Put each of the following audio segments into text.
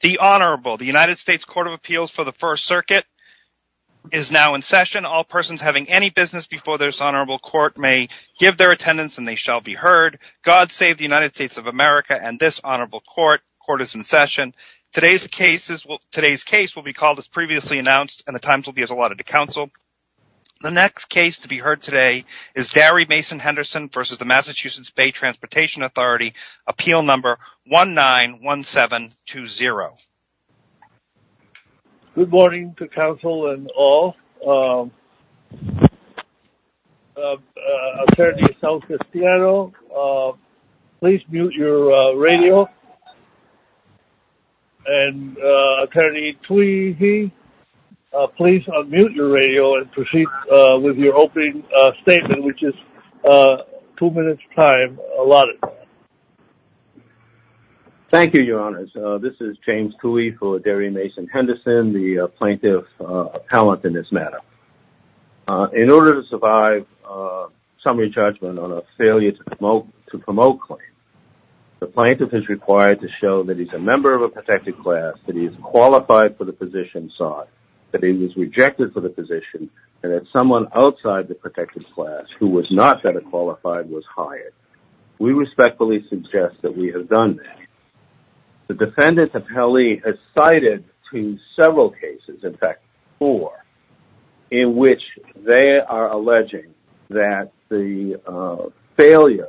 The Honourable, the United States Court of Appeals for the First Circuit is now in session. All persons having any business before this Honourable Court may give their attendance and they shall be heard. God save the United States of America and this Honourable Court. Court is in session. Today's case will be called as previously announced and the times to be heard today is Darry Mason Henderson versus the Massachusetts Bay Transportation Authority, Appeal Number 191720. Good morning to counsel and all. Attorney San Cristiano, please mute your radio. And Attorney Tweedy, please unmute your radio and proceed with your opening statement, which is two minutes' time allotted. Thank you, Your Honours. This is James Tweedy for Darry Mason Henderson, the plaintiff appellant in this matter. In order to survive summary judgment on a failure to promote claim, the plaintiff is required to show that he's a member of a protected class, that he's qualified for the position sought, that he was rejected for the position, and that someone outside the protected class who was not better qualified was hired. We respectfully suggest that we have done that. The defendant appellee has cited to several cases, in fact, four, in which they are alleging that the failure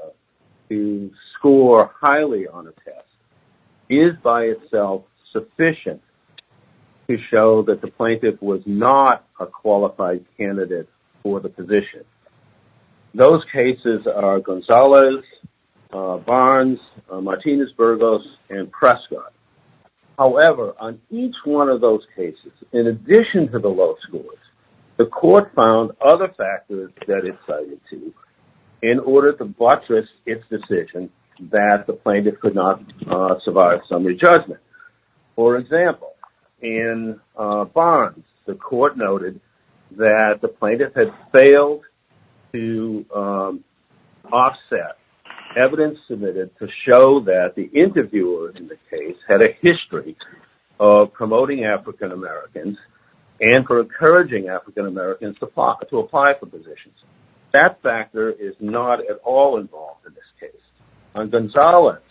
to score highly on a test is by itself sufficient to show that the plaintiff was not a qualified candidate for the position. Those cases are Gonzalez, Barnes, Martinez-Burgos, and Prescott. However, on each one of those cases, in addition to the low scores, the plaintiff cited to in order to buttress its decision that the plaintiff could not survive summary judgment. For example, in Barnes, the court noted that the plaintiff had failed to offset evidence submitted to show that the interviewer in the case had a history of promoting African-Americans and for encouraging African-Americans to apply for positions. That factor is not at all involved in this case. On Gonzalez,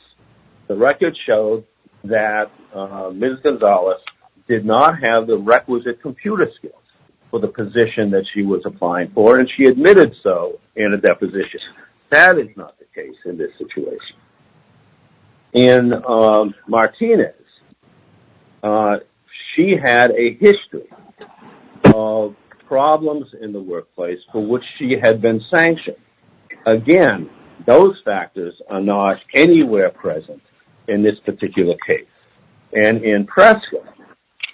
the record showed that Ms. Gonzalez did not have the requisite computer skills for the position that she was applying for, and she admitted so in a deposition. That is not the case in this situation. In Martinez, she had a history of problems in the workplace for which she had been sanctioned. Again, those factors are not anywhere present in this particular case. And in Prescott,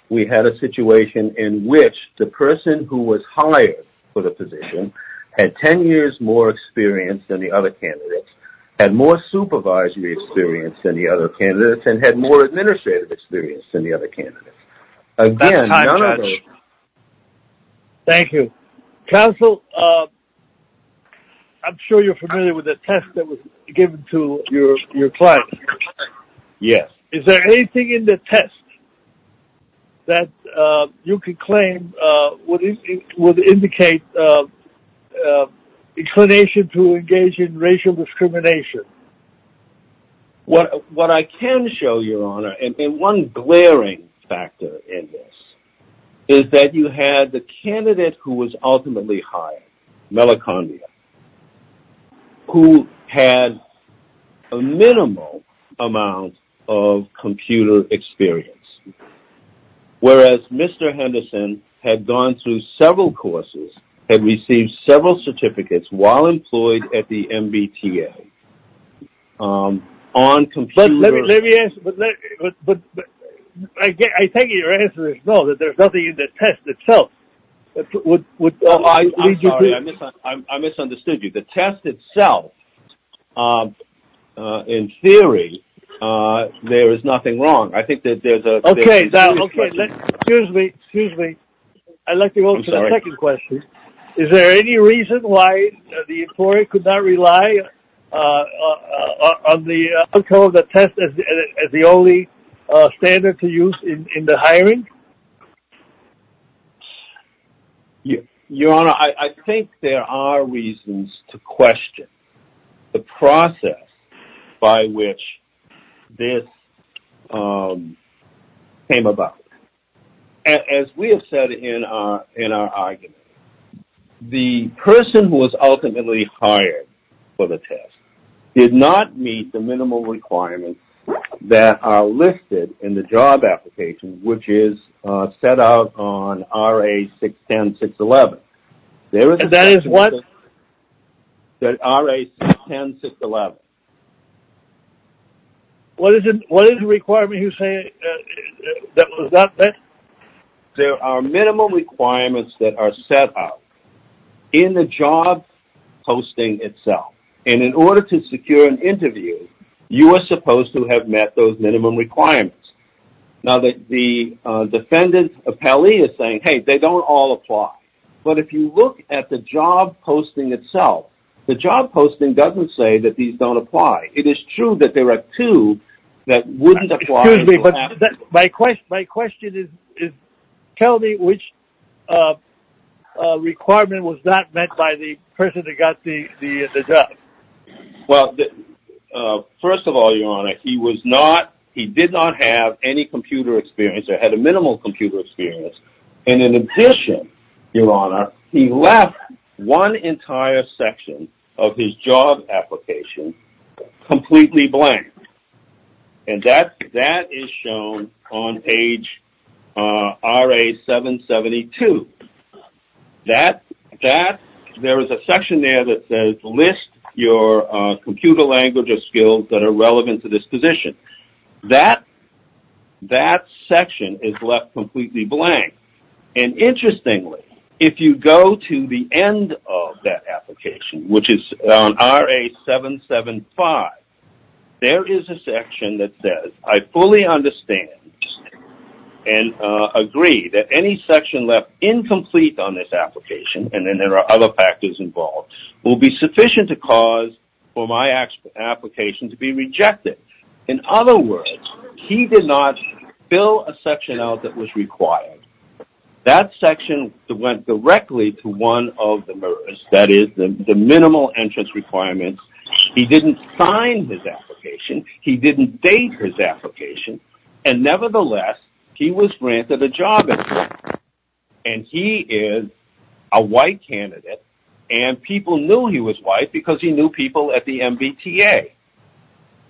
we had a situation in which the person who was hired for the position had 10 years more experience than the other candidates, had more supervisory experience than the other candidates, and had more administrative experience than the other candidates. That's time, Judge. Thank you. Counsel, I'm sure you're familiar with the test that was given to your client. Yes. Is there anything in the test that you could claim would indicate inclination to engage in racial discrimination? What I can show, Your Honor, and one glaring factor in this, is that you had the candidate who was ultimately hired, Melacondia, who had a minimal amount of computer experience. Whereas Mr. Henderson had gone through several courses, had received several certificates while employed at the MBTA, on computer... Let me answer, but I take it your answer is no, that there's nothing in the test itself. I'm sorry, I misunderstood you. The test itself, in theory, there is nothing wrong. I think that there's a... Okay, now, okay. Excuse me, excuse me. I'd like to go to the second question. Is there any reason why the employee could not rely on the outcome of the test as the only standard to use in the hiring? Your Honor, I think there are reasons to question the process by which this came about. As we have said in our argument, the person who was ultimately hired for the test did not meet the minimal requirements that are listed in the job application, which is set out on RA-610-611. And that is what? RA-610-611. What is the requirement you're saying that was not met? There are minimal requirements that are set out in the job posting itself. And in order to secure an interview, you are supposed to have met those minimum requirements. Now, the defendant's appellee is saying, hey, they don't all apply. But if you look at the job posting itself, the job posting doesn't say that these don't apply. It is true that there are two that wouldn't apply. My question is, tell me which requirement was not met by the person that got the job. Well, first of all, Your Honor, he did not have any computer experience or had a minimal computer experience. And in addition, Your Honor, he left one entire section of his job application completely blank. And that is shown on page RA-772. There is a section there that says list your computer language or skills that are relevant to this position. That section is left completely blank. And interestingly, if you go to the end of that application, which is on RA-775, there is a section that says I fully understand and agree that any section left incomplete on this application, and then there are other factors involved, will be sufficient to cause for my application to be rejected. In other words, he did not fill a section out that was required. That section went directly to one of the MERS, that is, the minimal entrance requirements. He didn't sign his application. He didn't date his application. And nevertheless, he was granted a job. And he is a white candidate, and people knew he was white because he knew people at the MBTA.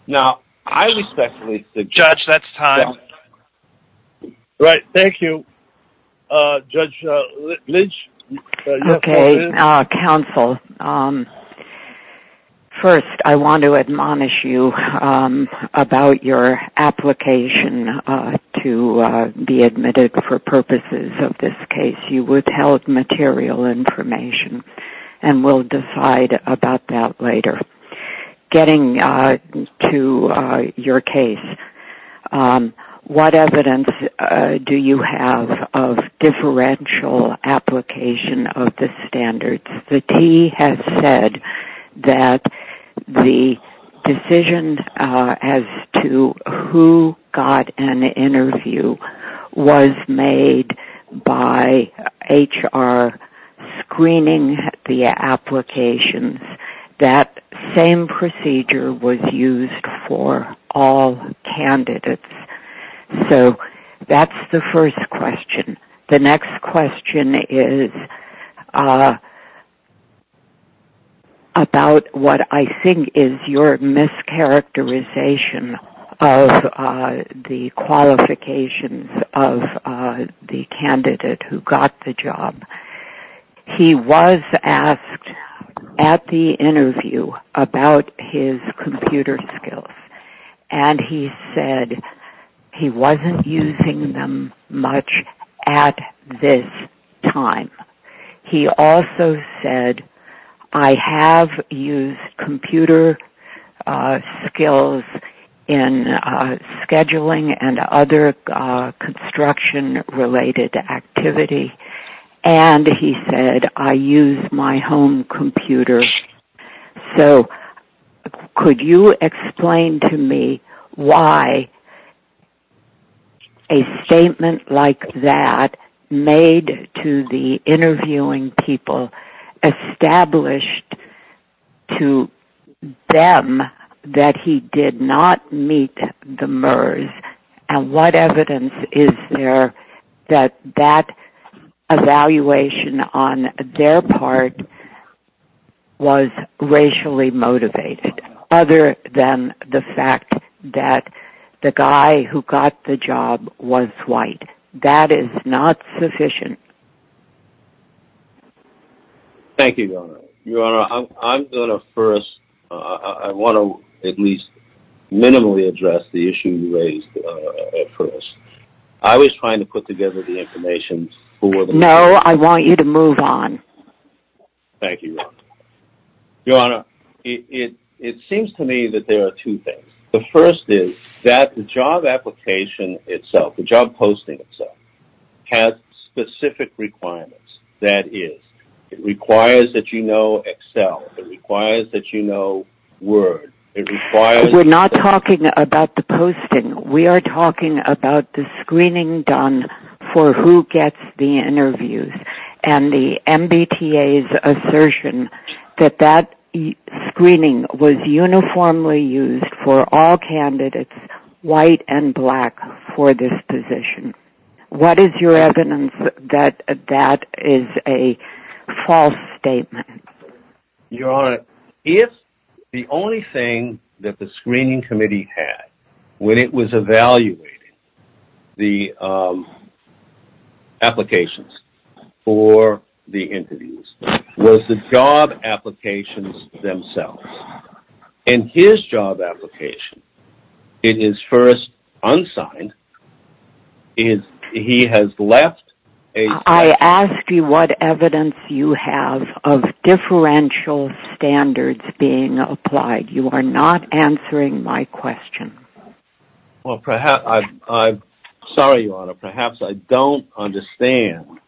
Now, I respectfully... Judge, that's time. Right, thank you. Judge Lynch? Okay, counsel. First, I want to admonish you about your application to be admitted for purposes of this case. Getting to your case, what evidence do you have of differential application of the standards? The T has said that the decision as to who got an interview was made by HR screening the applications. That same procedure was used for all candidates. So that's the first question. The next question is about what I think is your mischaracterization of the qualifications of the candidate who got the job. He was asked at the interview about his computer skills, and he said he wasn't using them much at this time. He also said, I have used computer skills in scheduling and other construction-related activity. And he said, I use my home computer. So could you explain to me why a statement like that made to the interviewing people established to them that he did not meet the MERS? And what evidence is there that that evaluation on their part was racially motivated, other than the fact that the guy who got the job was white? That is not sufficient. Your Honor, I want to at least minimally address the issue you raised at first. I was trying to put together the information. No, I want you to move on. Thank you, Your Honor. Your Honor, it seems to me that there are two things. The first is that the job application itself, the job posting itself, has specific requirements. It requires that you know Excel. It requires that you know Word. We're not talking about the posting. We are talking about the screening done for who gets the interviews and the MBTA's assertion that that screening was uniformly used for all candidates, white and black, for this position. What is your evidence that that is a false statement? Your Honor, if the only thing that the screening committee had when it was evaluating the applications for the interviews was the job applications themselves, in his job application, in his first unsigned, he has left a – I ask you what evidence you have of differential standards being applied. You are not answering my question. Sorry, Your Honor. Perhaps I don't understand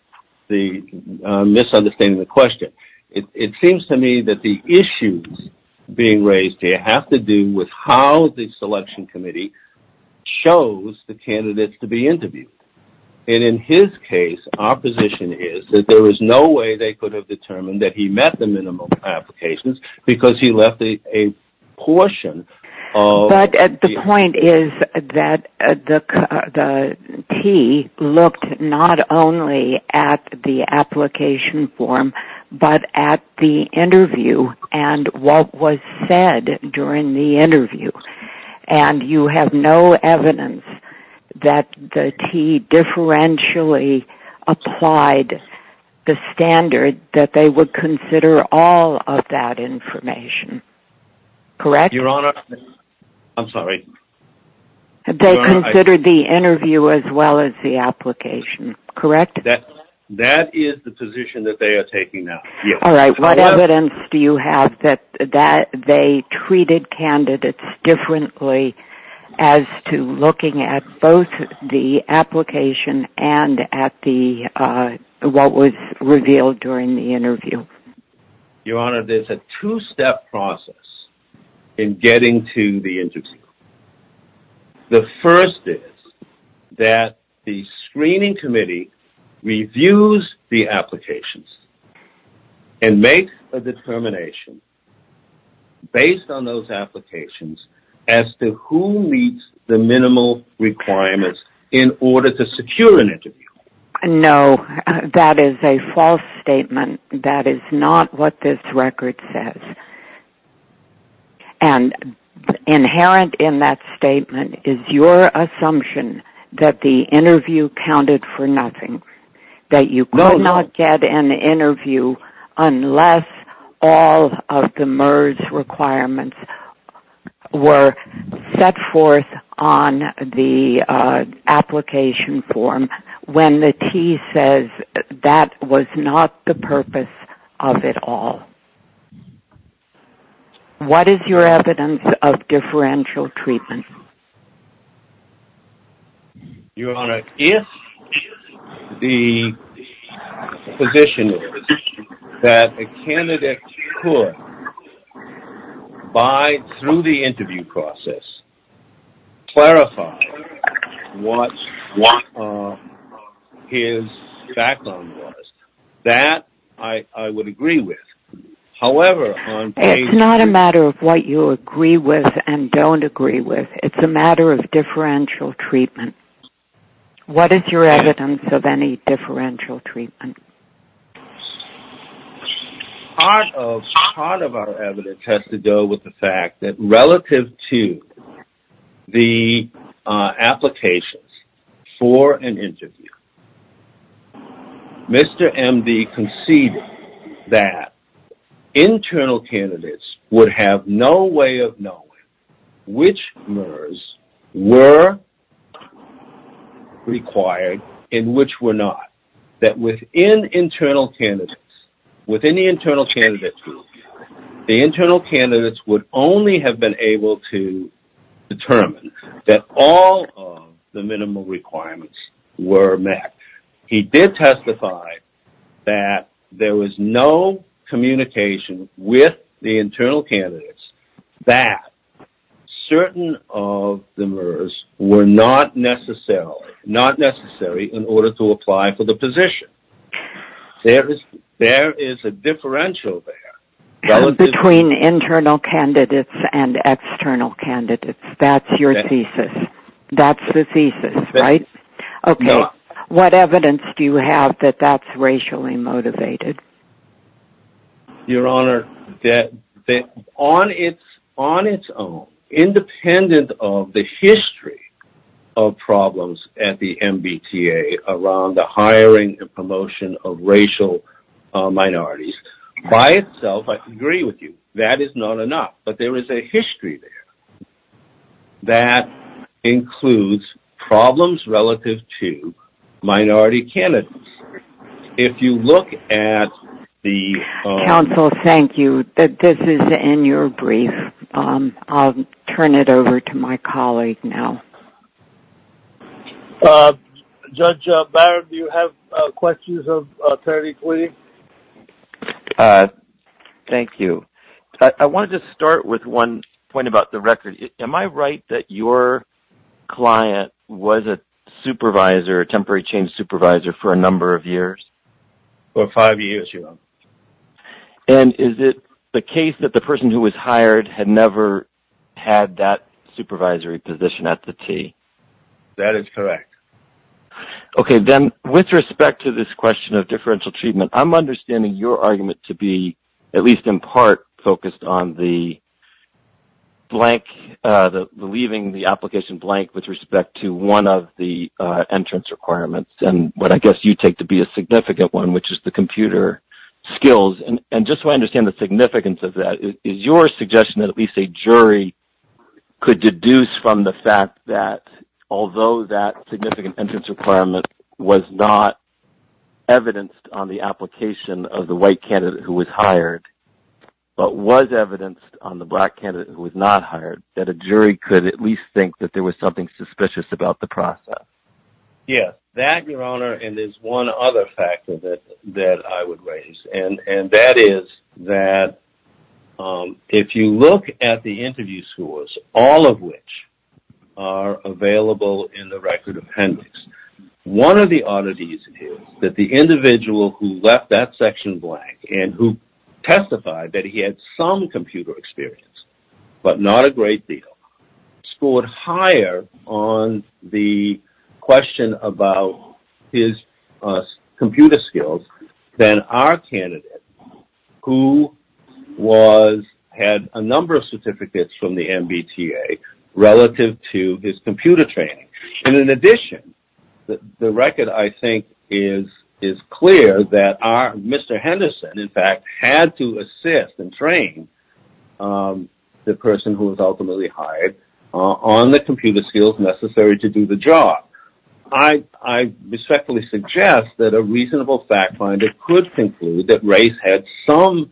the misunderstanding of the question. It seems to me that the issues being raised here have to do with how the selection committee chose the candidates to be interviewed. And in his case, our position is that there was no way they could have determined that he met the minimum applications because he left a portion of – But the point is that the T looked not only at the application form, but at the interview and what was said during the interview. And you have no evidence that the T differentially applied the standard that they would consider all of that information, correct? Your Honor, I'm sorry. They considered the interview as well as the application, correct? That is the position that they are taking now. All right, what evidence do you have that they treated candidates differently as to looking at both the application and at what was revealed during the interview? Your Honor, there's a two-step process in getting to the interview. The first is that the screening committee reviews the applications and makes a determination based on those applications as to who meets the minimal requirements in order to secure an interview. No, that is a false statement. That is not what this record says. And inherent in that statement is your assumption that the interview counted for nothing, that you could not get an interview unless all of the MERS requirements were set forth on the application form when the T says that was not the purpose of it all. What is your evidence of differential treatment? Your Honor, if the position is that a candidate could, through the interview process, clarify what his background was, that I would agree with. It's not a matter of what you agree with and don't agree with. It's a matter of differential treatment. What is your evidence of any differential treatment? Part of our evidence has to do with the fact that relative to the applications for an interview, Mr. M.D. conceded that internal candidates would have no way of knowing which MERS were required and which were not. That within internal candidates, within the internal candidate group, the internal candidates would only have been able to determine that all of the minimal requirements were met. He did testify that there was no communication with the internal candidates that certain of the MERS were not necessary in order to apply for the position. There is a differential there. Between internal candidates and external candidates. That's your thesis. That's the thesis, right? What evidence do you have that that's racially motivated? Your Honor, on its own, independent of the history of problems at the MBTA around the hiring and promotion of racial minorities, by itself I can agree with you. That is not enough. But there is a history there that includes problems relative to minority candidates. If you look at the... Counsel, thank you. This is in your brief. I'll turn it over to my colleague now. Judge Barron, do you have questions of Attorney Queen? Thank you. I wanted to start with one point about the record. Am I right that your client was a temporary change supervisor for a number of years? For five years, Your Honor. Is it the case that the person who was hired had never had that supervisory position at the T? That is correct. Okay. Then, with respect to this question of differential treatment, I'm understanding your argument to be, at least in part, focused on the blank, leaving the application blank with respect to one of the entrance requirements, and what I guess you take to be a significant one, which is the computer skills. And just so I understand the significance of that, is your suggestion that at least a jury could deduce from the fact that, although that significant entrance requirement was not evidenced on the application of the white candidate who was hired, but was evidenced on the black candidate who was not hired, that a jury could at least think that there was something suspicious about the process? Yes. That, Your Honor, and there's one other factor that I would raise, and that is that if you look at the interview scores, all of which are available in the record appendix, one of the oddities is that the individual who left that section blank and who testified that he had some computer experience, but not a great deal, scored higher on the question about his computer skills than our candidate who had a number of certificates from the MBTA relative to his computer training. And in addition, the record, I think, is clear that Mr. Henderson, in fact, had to assist and train the person who was ultimately hired on the computer skills necessary to do the job. I respectfully suggest that a reasonable fact finder could conclude that race had some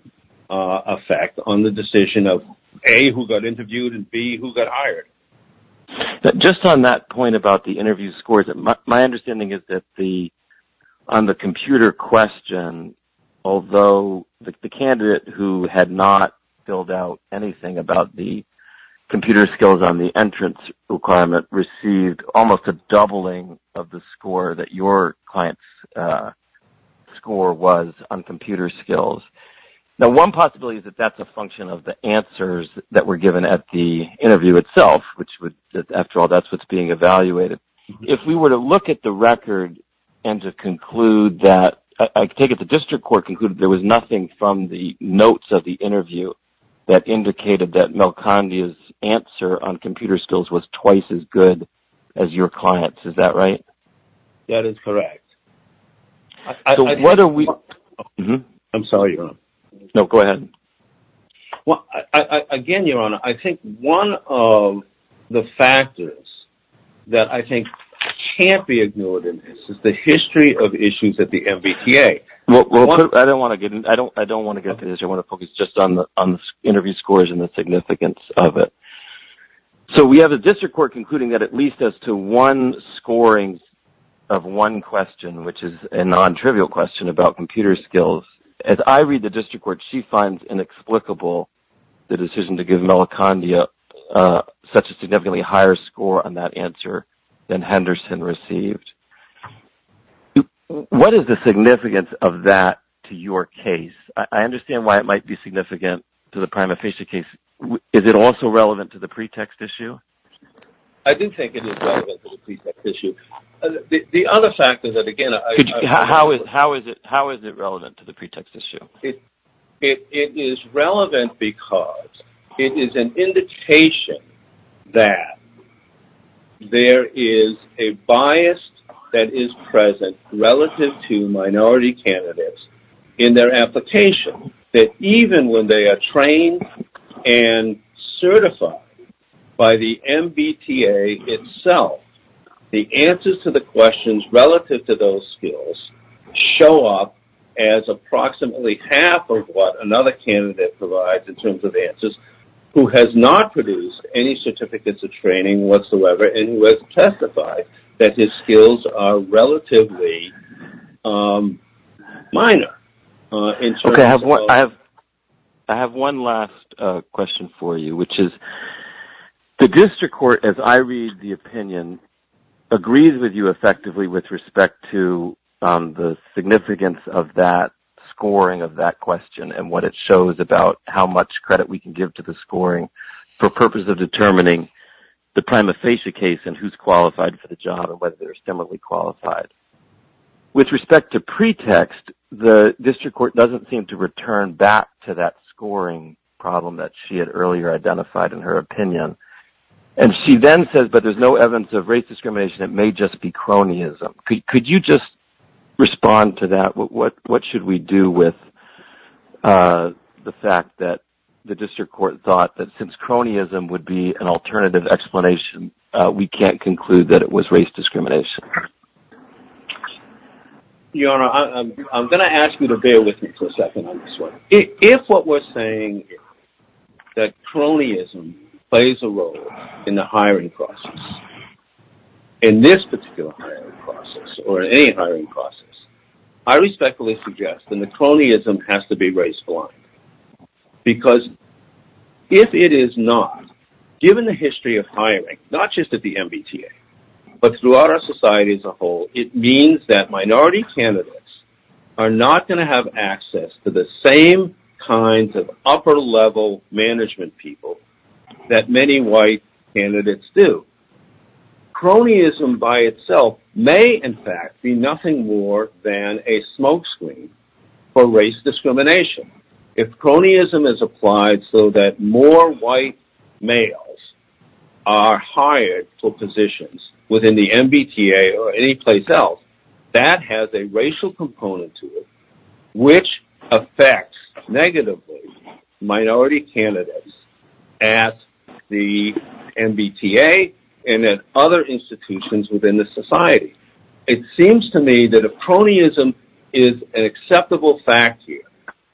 effect on the decision of A, who got interviewed, and B, who got hired. Just on that point about the interview scores, my understanding is that on the computer question, although the candidate who had not filled out anything about the computer skills on the entrance requirement received almost a doubling of the score that your client's score was on computer skills. Now, one possibility is that that's a function of the answers that were given at the interview itself, which, after all, that's what's being evaluated. If we were to look at the record and to conclude that – I take it the district court concluded there was nothing from the notes of the interview that indicated that Mel Kandi's answer on computer skills was twice as good as your client's. Is that right? That is correct. I'm sorry, Your Honor. No, go ahead. Again, Your Honor, I think one of the factors that I think can't be ignored in this is the history of issues at the MBTA. I don't want to get into this. I want to focus just on the interview scores and the significance of it. So we have a district court concluding that at least as to one scoring of one question, which is a non-trivial question about computer skills, as I read the district court, she finds inexplicable the decision to give Mel Kandi such a significantly higher score on that answer than Henderson received. What is the significance of that to your case? I understand why it might be significant to the prima facie case. Is it also relevant to the pretext issue? I do think it is relevant to the pretext issue. The other fact is that, again – How is it relevant to the pretext issue? It is relevant because it is an indication that there is a bias that is present relative to minority candidates in their application. Even when they are trained and certified by the MBTA itself, the answers to the questions relative to those skills show up as approximately half of what another candidate provides in terms of answers who has not produced any certificates of training whatsoever and who has testified that his skills are relatively minor. I have one last question for you. The district court, as I read the opinion, agrees with you effectively with respect to the significance of that scoring of that question and what it shows about how much credit we can give to the scoring for the purpose of determining the prima facie case and who is qualified for the job and whether they are similarly qualified. With respect to pretext, the district court does not seem to return back to that scoring problem that she had earlier identified in her opinion. She then says, but there is no evidence of race discrimination. It may just be cronyism. Could you just respond to that? What should we do with the fact that the district court thought that since cronyism would be an alternative explanation, we cannot conclude that it was race discrimination? Your Honor, I'm going to ask you to bear with me for a second on this one. If what we're saying is that cronyism plays a role in the hiring process, in this particular hiring process or any hiring process, I respectfully suggest that the cronyism has to be raised blind. Because if it is not, given the history of hiring, not just at the MBTA, but throughout our society as a whole, it means that minority candidates are not going to have access to the same kinds of upper-level management people that many white candidates do. Cronyism by itself may, in fact, be nothing more than a smokescreen for race discrimination. If cronyism is applied so that more white males are hired for positions within the MBTA or any place else, that has a racial component to it, which affects negatively minority candidates at the MBTA and at other institutions within the society. It seems to me that if cronyism is an acceptable fact here,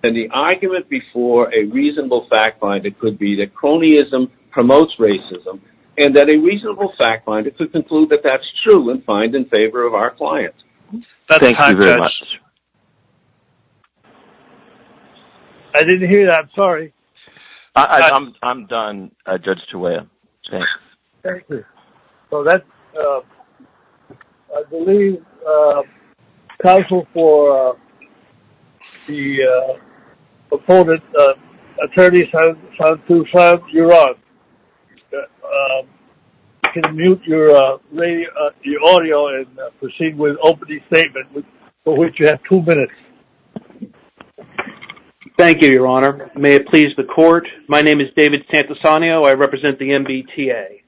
then the argument before a reasonable fact-finder could be that cronyism promotes racism, and that a reasonable fact-finder could conclude that that's true and find in favor of our clients. Thank you very much. That's time, Judge. I didn't hear that. I'm sorry. I'm done, Judge Chueya. Thank you. So that's, I believe, counsel for the opponent, attorney Santu San, you're on. You can mute your audio and proceed with opening statement, for which you have two minutes. Thank you, Your Honor. May it please the court. My name is David Santusanio. I represent the MBTA.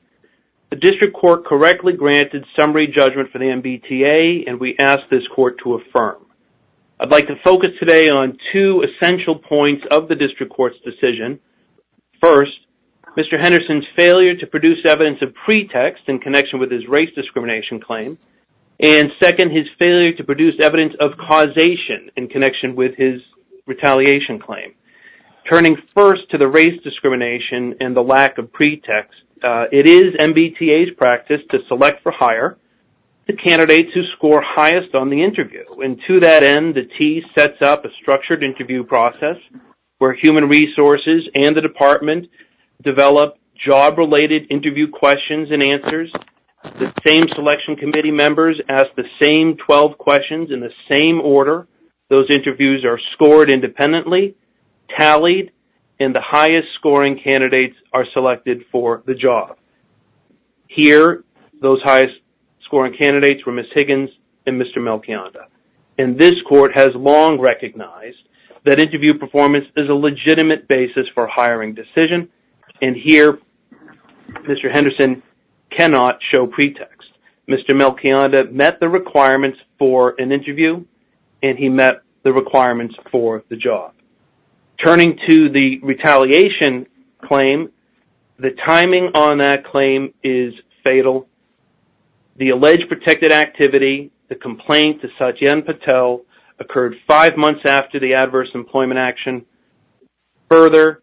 The district court correctly granted summary judgment for the MBTA, and we ask this court to affirm. I'd like to focus today on two essential points of the district court's decision. First, Mr. Henderson's failure to produce evidence of pretext in connection with his race discrimination claim. And second, his failure to produce evidence of causation in connection with his retaliation claim. Turning first to the race discrimination and the lack of pretext, it is MBTA's practice to select for hire the candidates who score highest on the interview. And to that end, the TEA sets up a structured interview process where human resources and the department develop job-related interview questions and answers. The same selection committee members ask the same 12 questions in the same order. Those interviews are scored independently, tallied, and the highest-scoring candidates are selected for the job. Here, those highest-scoring candidates were Ms. Higgins and Mr. Melchionda. And this court has long recognized that interview performance is a legitimate basis for hiring decision. And here, Mr. Henderson cannot show pretext. Mr. Melchionda met the requirements for an interview, and he met the requirements for the job. Turning to the retaliation claim, the timing on that claim is fatal. The alleged protected activity, the complaint to Satyen Patel, occurred five months after the adverse employment action. Further,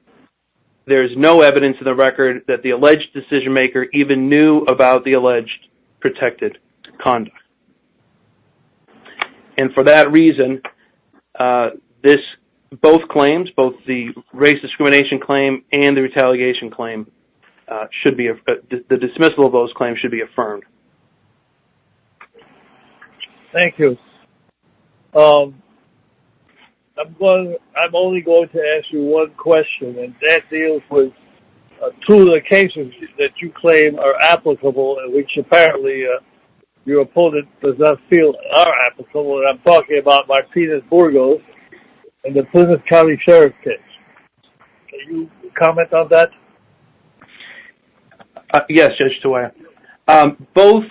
there is no evidence in the record that the alleged decision-maker even knew about the alleged protected conduct. And for that reason, both claims, both the race discrimination claim and the retaliation claim, the dismissal of those claims should be affirmed. Thank you. I'm only going to ask you one question, and that deals with two of the cases that you claim are applicable, and which apparently your opponent does not feel are applicable, and I'm talking about Martinez-Burgos and the Plymouth County Sheriff's case. Can you comment on that? Yes, Judge Sawyer. Both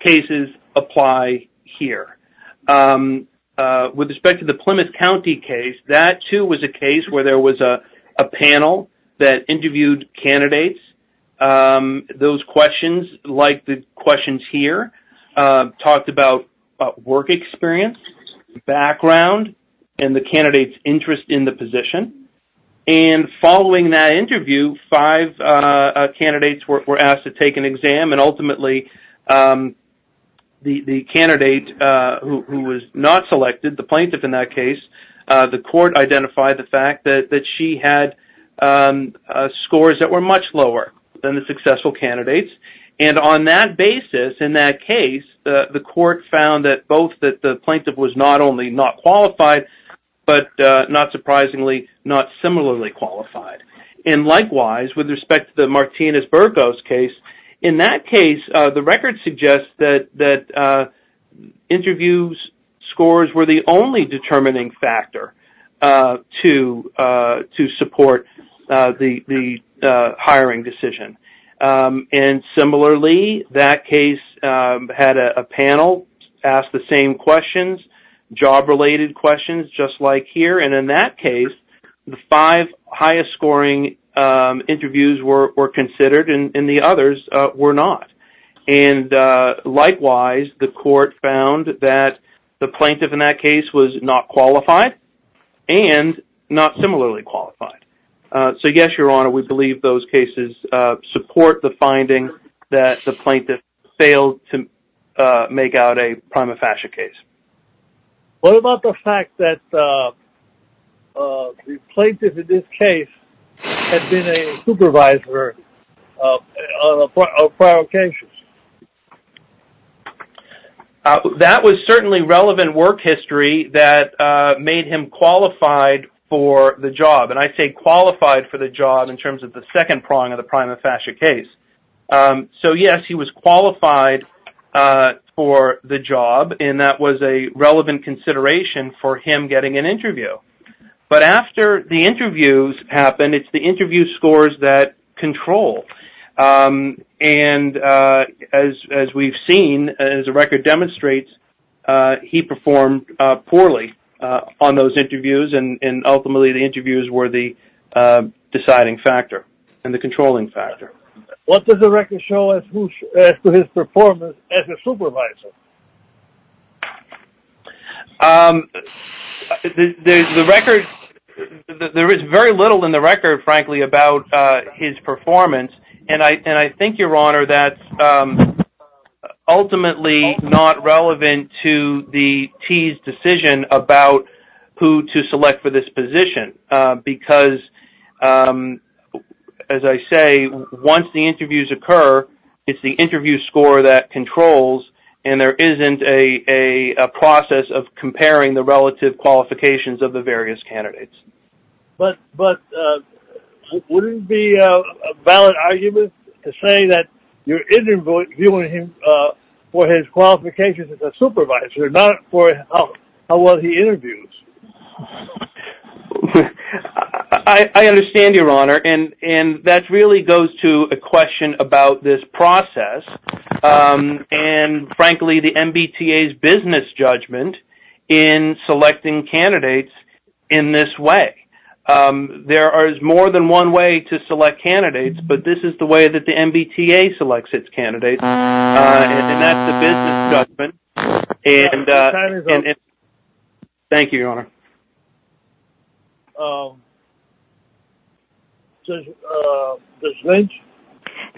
cases apply here. With respect to the Plymouth County case, that, too, was a case where there was a panel that interviewed candidates. Those questions, like the questions here, talked about work experience, background, and the candidate's interest in the position. And following that interview, five candidates were asked to take an exam, and ultimately the candidate who was not selected, the plaintiff in that case, the court identified the fact that she had scores that were much lower than the successful candidates. And on that basis, in that case, the court found that both the plaintiff was not only not qualified, but not surprisingly not similarly qualified. And likewise, with respect to the Martinez-Burgos case, in that case, the record suggests that interview scores were the only determining factor to support the hiring decision. And similarly, that case had a panel ask the same questions, job-related questions, just like here. And in that case, the five highest-scoring interviews were considered, and the others were not. And likewise, the court found that the plaintiff in that case was not qualified and not similarly qualified. So yes, Your Honor, we believe those cases support the finding that the plaintiff failed to make out a prima facie case. What about the fact that the plaintiff in this case had been a supervisor of prior cases? That was certainly relevant work history that made him qualified for the job. And I say qualified for the job in terms of the second prong of the prima facie case. So yes, he was qualified for the job, and that was a relevant consideration for him getting an interview. But after the interviews happened, it's the interview scores that control. And as we've seen, as the record demonstrates, he performed poorly on those interviews, and ultimately the interviews were the deciding factor and the controlling factor. What does the record show as to his performance as a supervisor? There is very little in the record, frankly, about his performance. And I think, Your Honor, that's ultimately not relevant to the T's decision about who to select for this position. Because, as I say, once the interviews occur, it's the interview score that controls. And there isn't a process of comparing the relative qualifications of the various candidates. But wouldn't it be a valid argument to say that you're interviewing him for his qualifications as a supervisor, not for how well he interviews? I understand, Your Honor, and that really goes to a question about this process and, frankly, the MBTA's business judgment in selecting candidates in this way. There is more than one way to select candidates, but this is the way that the MBTA selects its candidates, and that's the business judgment. Time is up. Thank you, Your Honor. Judge Lynch?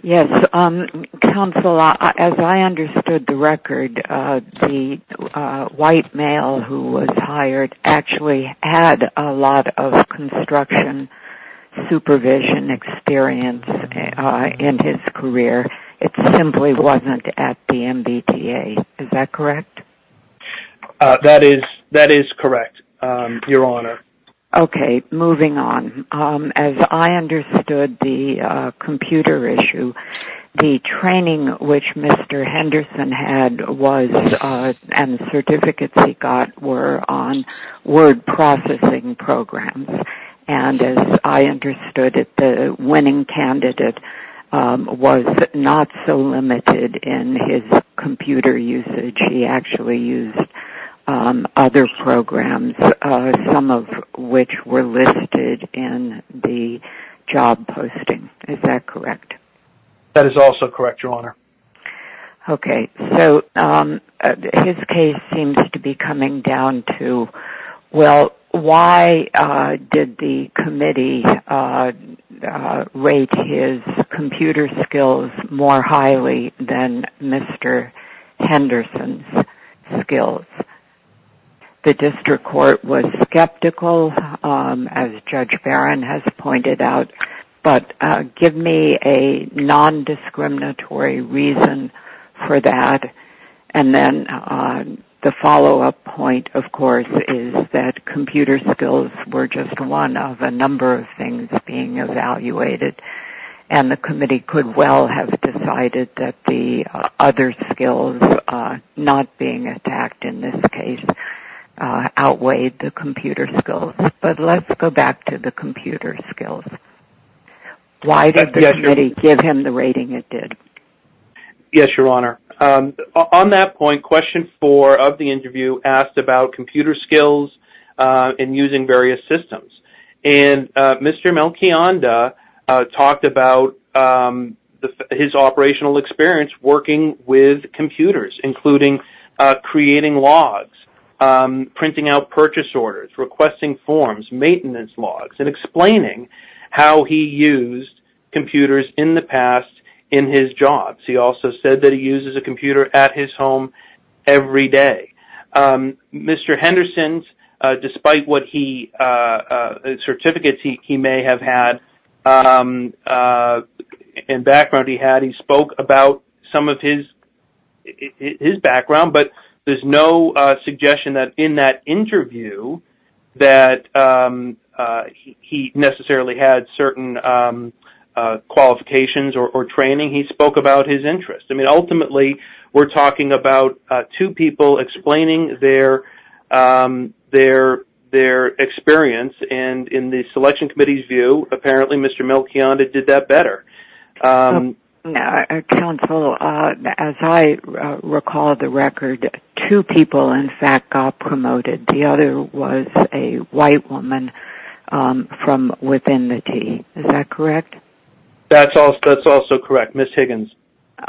Yes. Counsel, as I understood the record, the white male who was hired actually had a lot of construction supervision experience in his career. It simply wasn't at the MBTA. Is that correct? That is correct, Your Honor. Okay. Moving on. As I understood the computer issue, the training which Mr. Henderson had and the certificates he got were on word processing programs. As I understood it, the winning candidate was not so limited in his computer usage. He actually used other programs, some of which were listed in the job posting. Is that correct? That is also correct, Your Honor. Okay. So his case seems to be coming down to, well, why did the committee rate his computer skills more highly than Mr. Henderson's skills? The district court was skeptical, as Judge Barron has pointed out, but give me a non-discriminatory reason for that. The follow-up point, of course, is that computer skills were just one of a number of things being evaluated, and the committee could well have decided that the other skills not being attacked in this case outweighed the computer skills. But let's go back to the computer skills. Why did the committee give him the rating it did? Yes, Your Honor. On that point, question four of the interview asked about computer skills and using various systems. Mr. Melchionda talked about his operational experience working with computers, including creating logs, printing out purchase orders, requesting forms, maintenance logs, and explaining how he used computers in the past in his jobs. He also said that he uses a computer at his home every day. Mr. Henderson, despite what certificates he may have had and background he had, he spoke about some of his background, but there's no suggestion that in that interview that he necessarily had certain qualifications or training. He spoke about his interests. Ultimately, we're talking about two people explaining their experience, and in the selection committee's view, apparently Mr. Melchionda did that better. Counsel, as I recall the record, two people in fact got promoted. The other was a white woman from within the team. Is that correct? That's also correct. Ms. Higgins?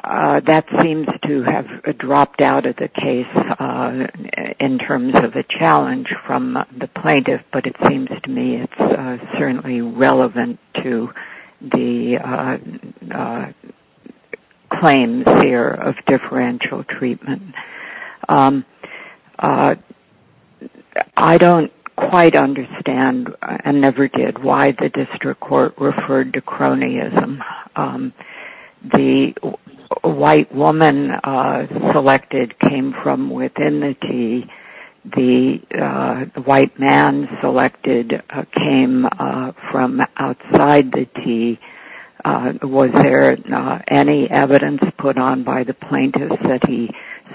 That seems to have dropped out of the case in terms of a challenge from the plaintiff, but it seems to me it's certainly relevant to the claims here of differential treatment. I don't quite understand, and never did, why the district court referred to cronyism. The white woman selected came from within the team. The white man selected came from outside the team. Was there any evidence put on by the plaintiff that he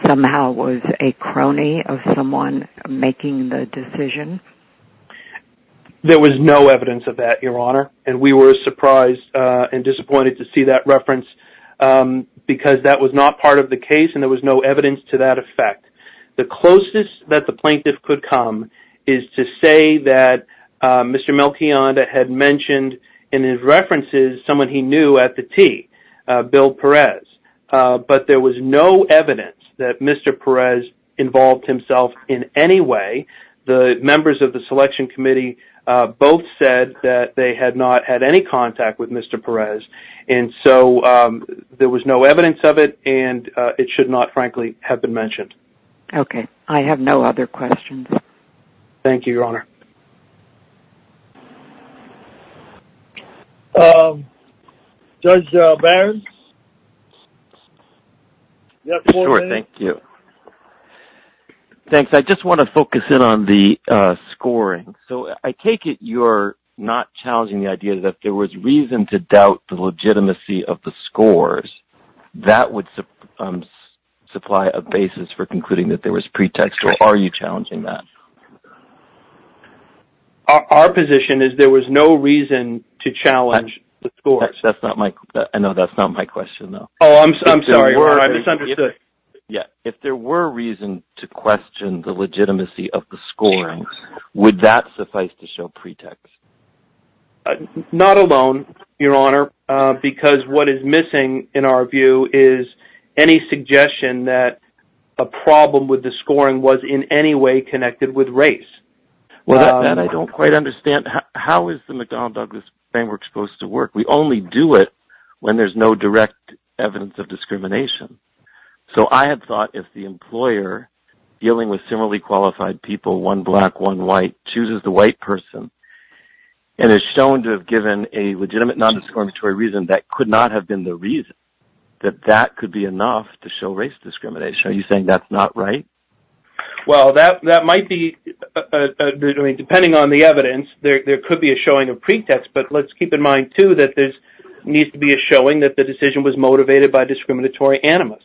somehow was a crony of someone making the decision? There was no evidence of that, Your Honor, and we were surprised and disappointed to see that reference because that was not part of the case and there was no evidence to that effect. The closest that the plaintiff could come is to say that Mr. Melchionda had mentioned in his references someone he knew at the T, Bill Perez, but there was no evidence that Mr. Perez involved himself in any way. The members of the selection committee both said that they had not had any contact with Mr. Perez, and so there was no evidence of it, and it should not, frankly, have been mentioned. Okay. I have no other questions. Thank you, Your Honor. Judge Barron? You have four minutes. Sure. Thank you. Thanks. I just want to focus in on the scoring. So I take it you're not challenging the idea that if there was reason to doubt the legitimacy of the scores, that would supply a basis for concluding that there was pretext, or are you challenging that? Our position is there was no reason to challenge the scores. That's not my – I know that's not my question, though. Oh, I'm sorry. I misunderstood. If there were reason to question the legitimacy of the scoring, would that suffice to show pretext? Not alone, Your Honor, because what is missing, in our view, is any suggestion that a problem with the scoring was in any way connected with race. Well, that I don't quite understand. How is the McDonnell-Douglas framework supposed to work? We only do it when there's no direct evidence of discrimination. So I had thought if the employer dealing with similarly qualified people, one black, one white, chooses the white person and is shown to have given a legitimate nondiscriminatory reason, that could not have been the reason, that that could be enough to show race discrimination. Are you saying that's not right? Well, that might be – I mean, depending on the evidence, there could be a showing of pretext, but let's keep in mind, too, that there needs to be a showing that the decision was motivated by discriminatory animus.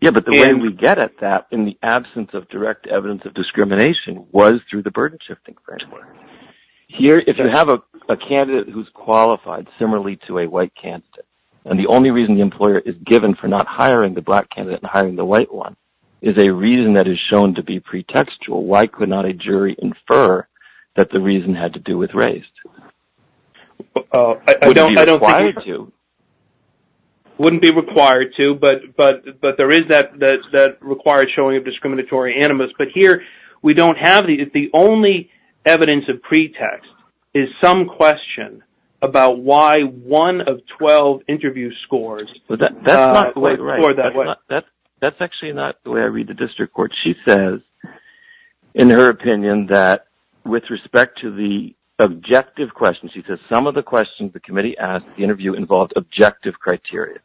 Yeah, but the way we get at that in the absence of direct evidence of discrimination was through the burden-shifting framework. Here, if you have a candidate who's qualified similarly to a white candidate, and the only reason the employer is given for not hiring the black candidate and hiring the white one is a reason that is shown to be pretextual, why could not a jury infer that the reason had to do with race? I don't think it would be required to, but there is that required showing of discriminatory animus. But here, we don't have it. The only evidence of pretext is some question about why one of 12 interview scores – That's actually not the way I read the district court. She says, in her opinion, that with respect to the objective questions, she says some of the questions the committee asked in the interview involved objective criteria.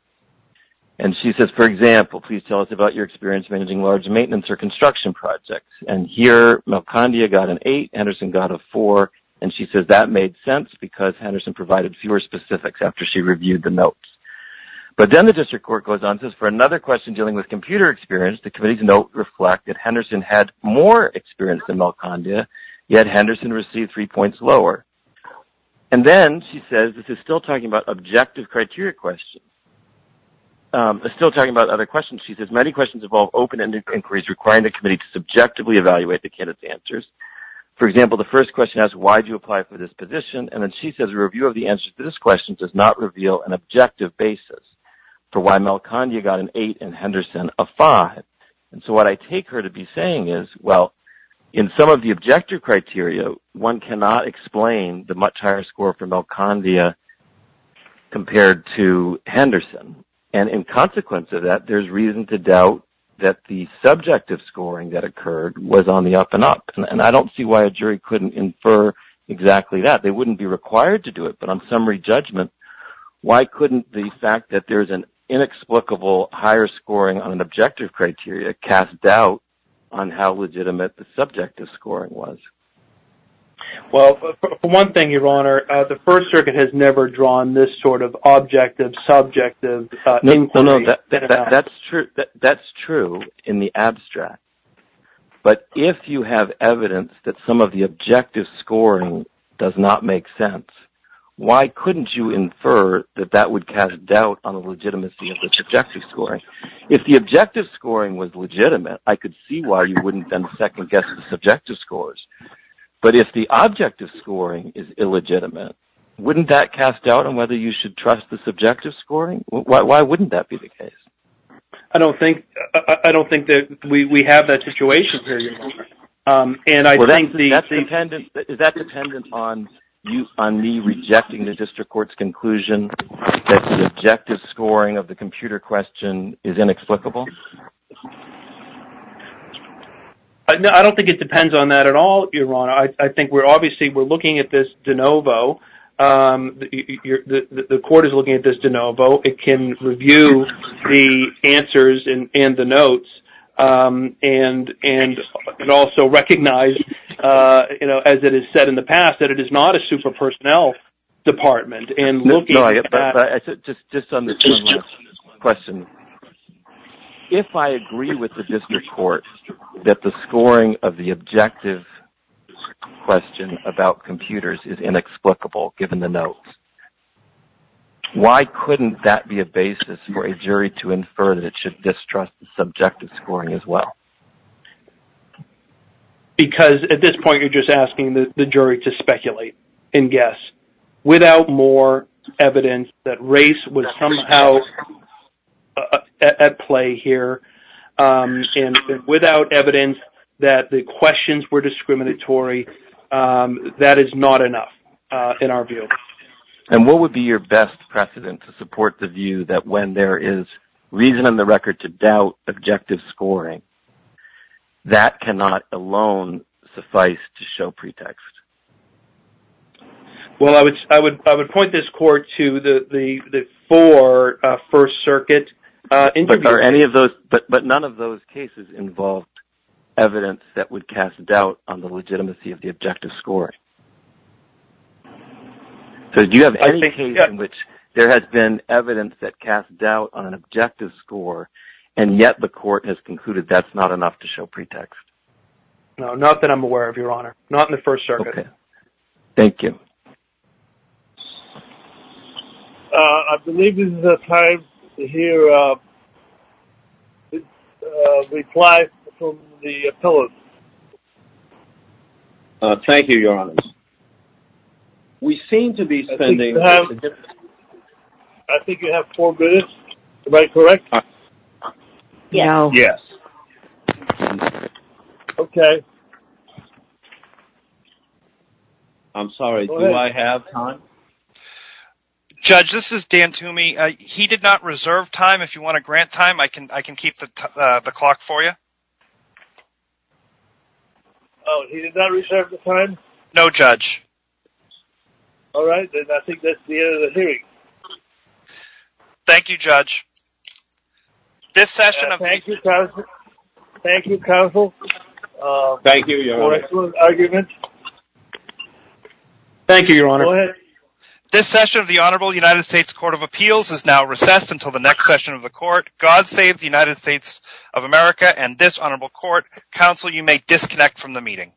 And she says, for example, please tell us about your experience managing large maintenance or construction projects. And here, Melcondia got an 8, Henderson got a 4, and she says that made sense because Henderson provided fewer specifics after she reviewed the notes. But then the district court goes on and says, for another question dealing with computer experience, the committee's notes reflect that Henderson had more experience than Melcondia, yet Henderson received three points lower. And then, she says, this is still talking about objective criteria questions. It's still talking about other questions. She says, many questions involve open-ended inquiries requiring the committee to subjectively evaluate the candidate's answers. For example, the first question asks, why did you apply for this position? And then she says, a review of the answers to this question does not reveal an objective basis for why Melcondia got an 8 and Henderson a 5. And so what I take her to be saying is, well, in some of the objective criteria, one cannot explain the much higher score for Melcondia compared to Henderson. And in consequence of that, there's reason to doubt that the subjective scoring that occurred was on the up-and-up. And I don't see why a jury couldn't infer exactly that. They wouldn't be required to do it. But on summary judgment, why couldn't the fact that there's an inexplicable higher scoring on an objective criteria cast doubt on how legitimate the subjective scoring was? Well, for one thing, Your Honor, the First Circuit has never drawn this sort of objective-subjective inquiry. No, no, that's true in the abstract. But if you have evidence that some of the objective scoring does not make sense, why couldn't you infer that that would cast doubt on the legitimacy of the subjective scoring? If the objective scoring was legitimate, I could see why you wouldn't then second-guess the subjective scores. But if the objective scoring is illegitimate, wouldn't that cast doubt on whether you should trust the subjective scoring? Why wouldn't that be the case? I don't think that we have that situation here, Your Honor. Is that dependent on me rejecting the district court's conclusion that the objective scoring of the computer question is inexplicable? I don't think it depends on that at all, Your Honor. I think we're obviously looking at this de novo. The court is looking at this de novo. It can review the answers and the notes and also recognize, as it is said in the past, that it is not a super-personnel department. Just on this one last question, if I agree with the district court that the scoring of the objective question about computers is inexplicable, given the notes, why couldn't that be a basis for a jury to infer that it should distrust the subjective scoring as well? Because at this point you're just asking the jury to speculate and guess. Without more evidence that race was somehow at play here and without evidence that the questions were discriminatory, that is not enough in our view. What would be your best precedent to support the view that when there is reason on the record to doubt objective scoring, that cannot alone suffice to show pretext? I would point this court to the four First Circuit interviews. But none of those cases involved evidence that would cast doubt on the legitimacy of the objective scoring? So do you have any case in which there has been evidence that casts doubt on an objective score and yet the court has concluded that's not enough to show pretext? No, not that I'm aware of, Your Honor. Not in the First Circuit. Okay. Thank you. I believe this is the time to hear a reply from the appellate. Thank you, Your Honor. We seem to be spending... I think you have four minutes. Am I correct? Yes. Okay. I'm sorry. Do I have time? Judge, this is Dan Toomey. He did not reserve time. If you want to grant time, I can keep the clock for you. Oh, he did not reserve the time? No, Judge. All right. Then I think that's the end of the hearing. Thank you, Judge. Thank you, counsel. Thank you, Your Honor. Excellent argument. Thank you, Your Honor. This session of the Honorable United States Court of Appeals is now recessed until the next session of the court. God save the United States of America and this honorable court. Counsel, you may disconnect from the meeting.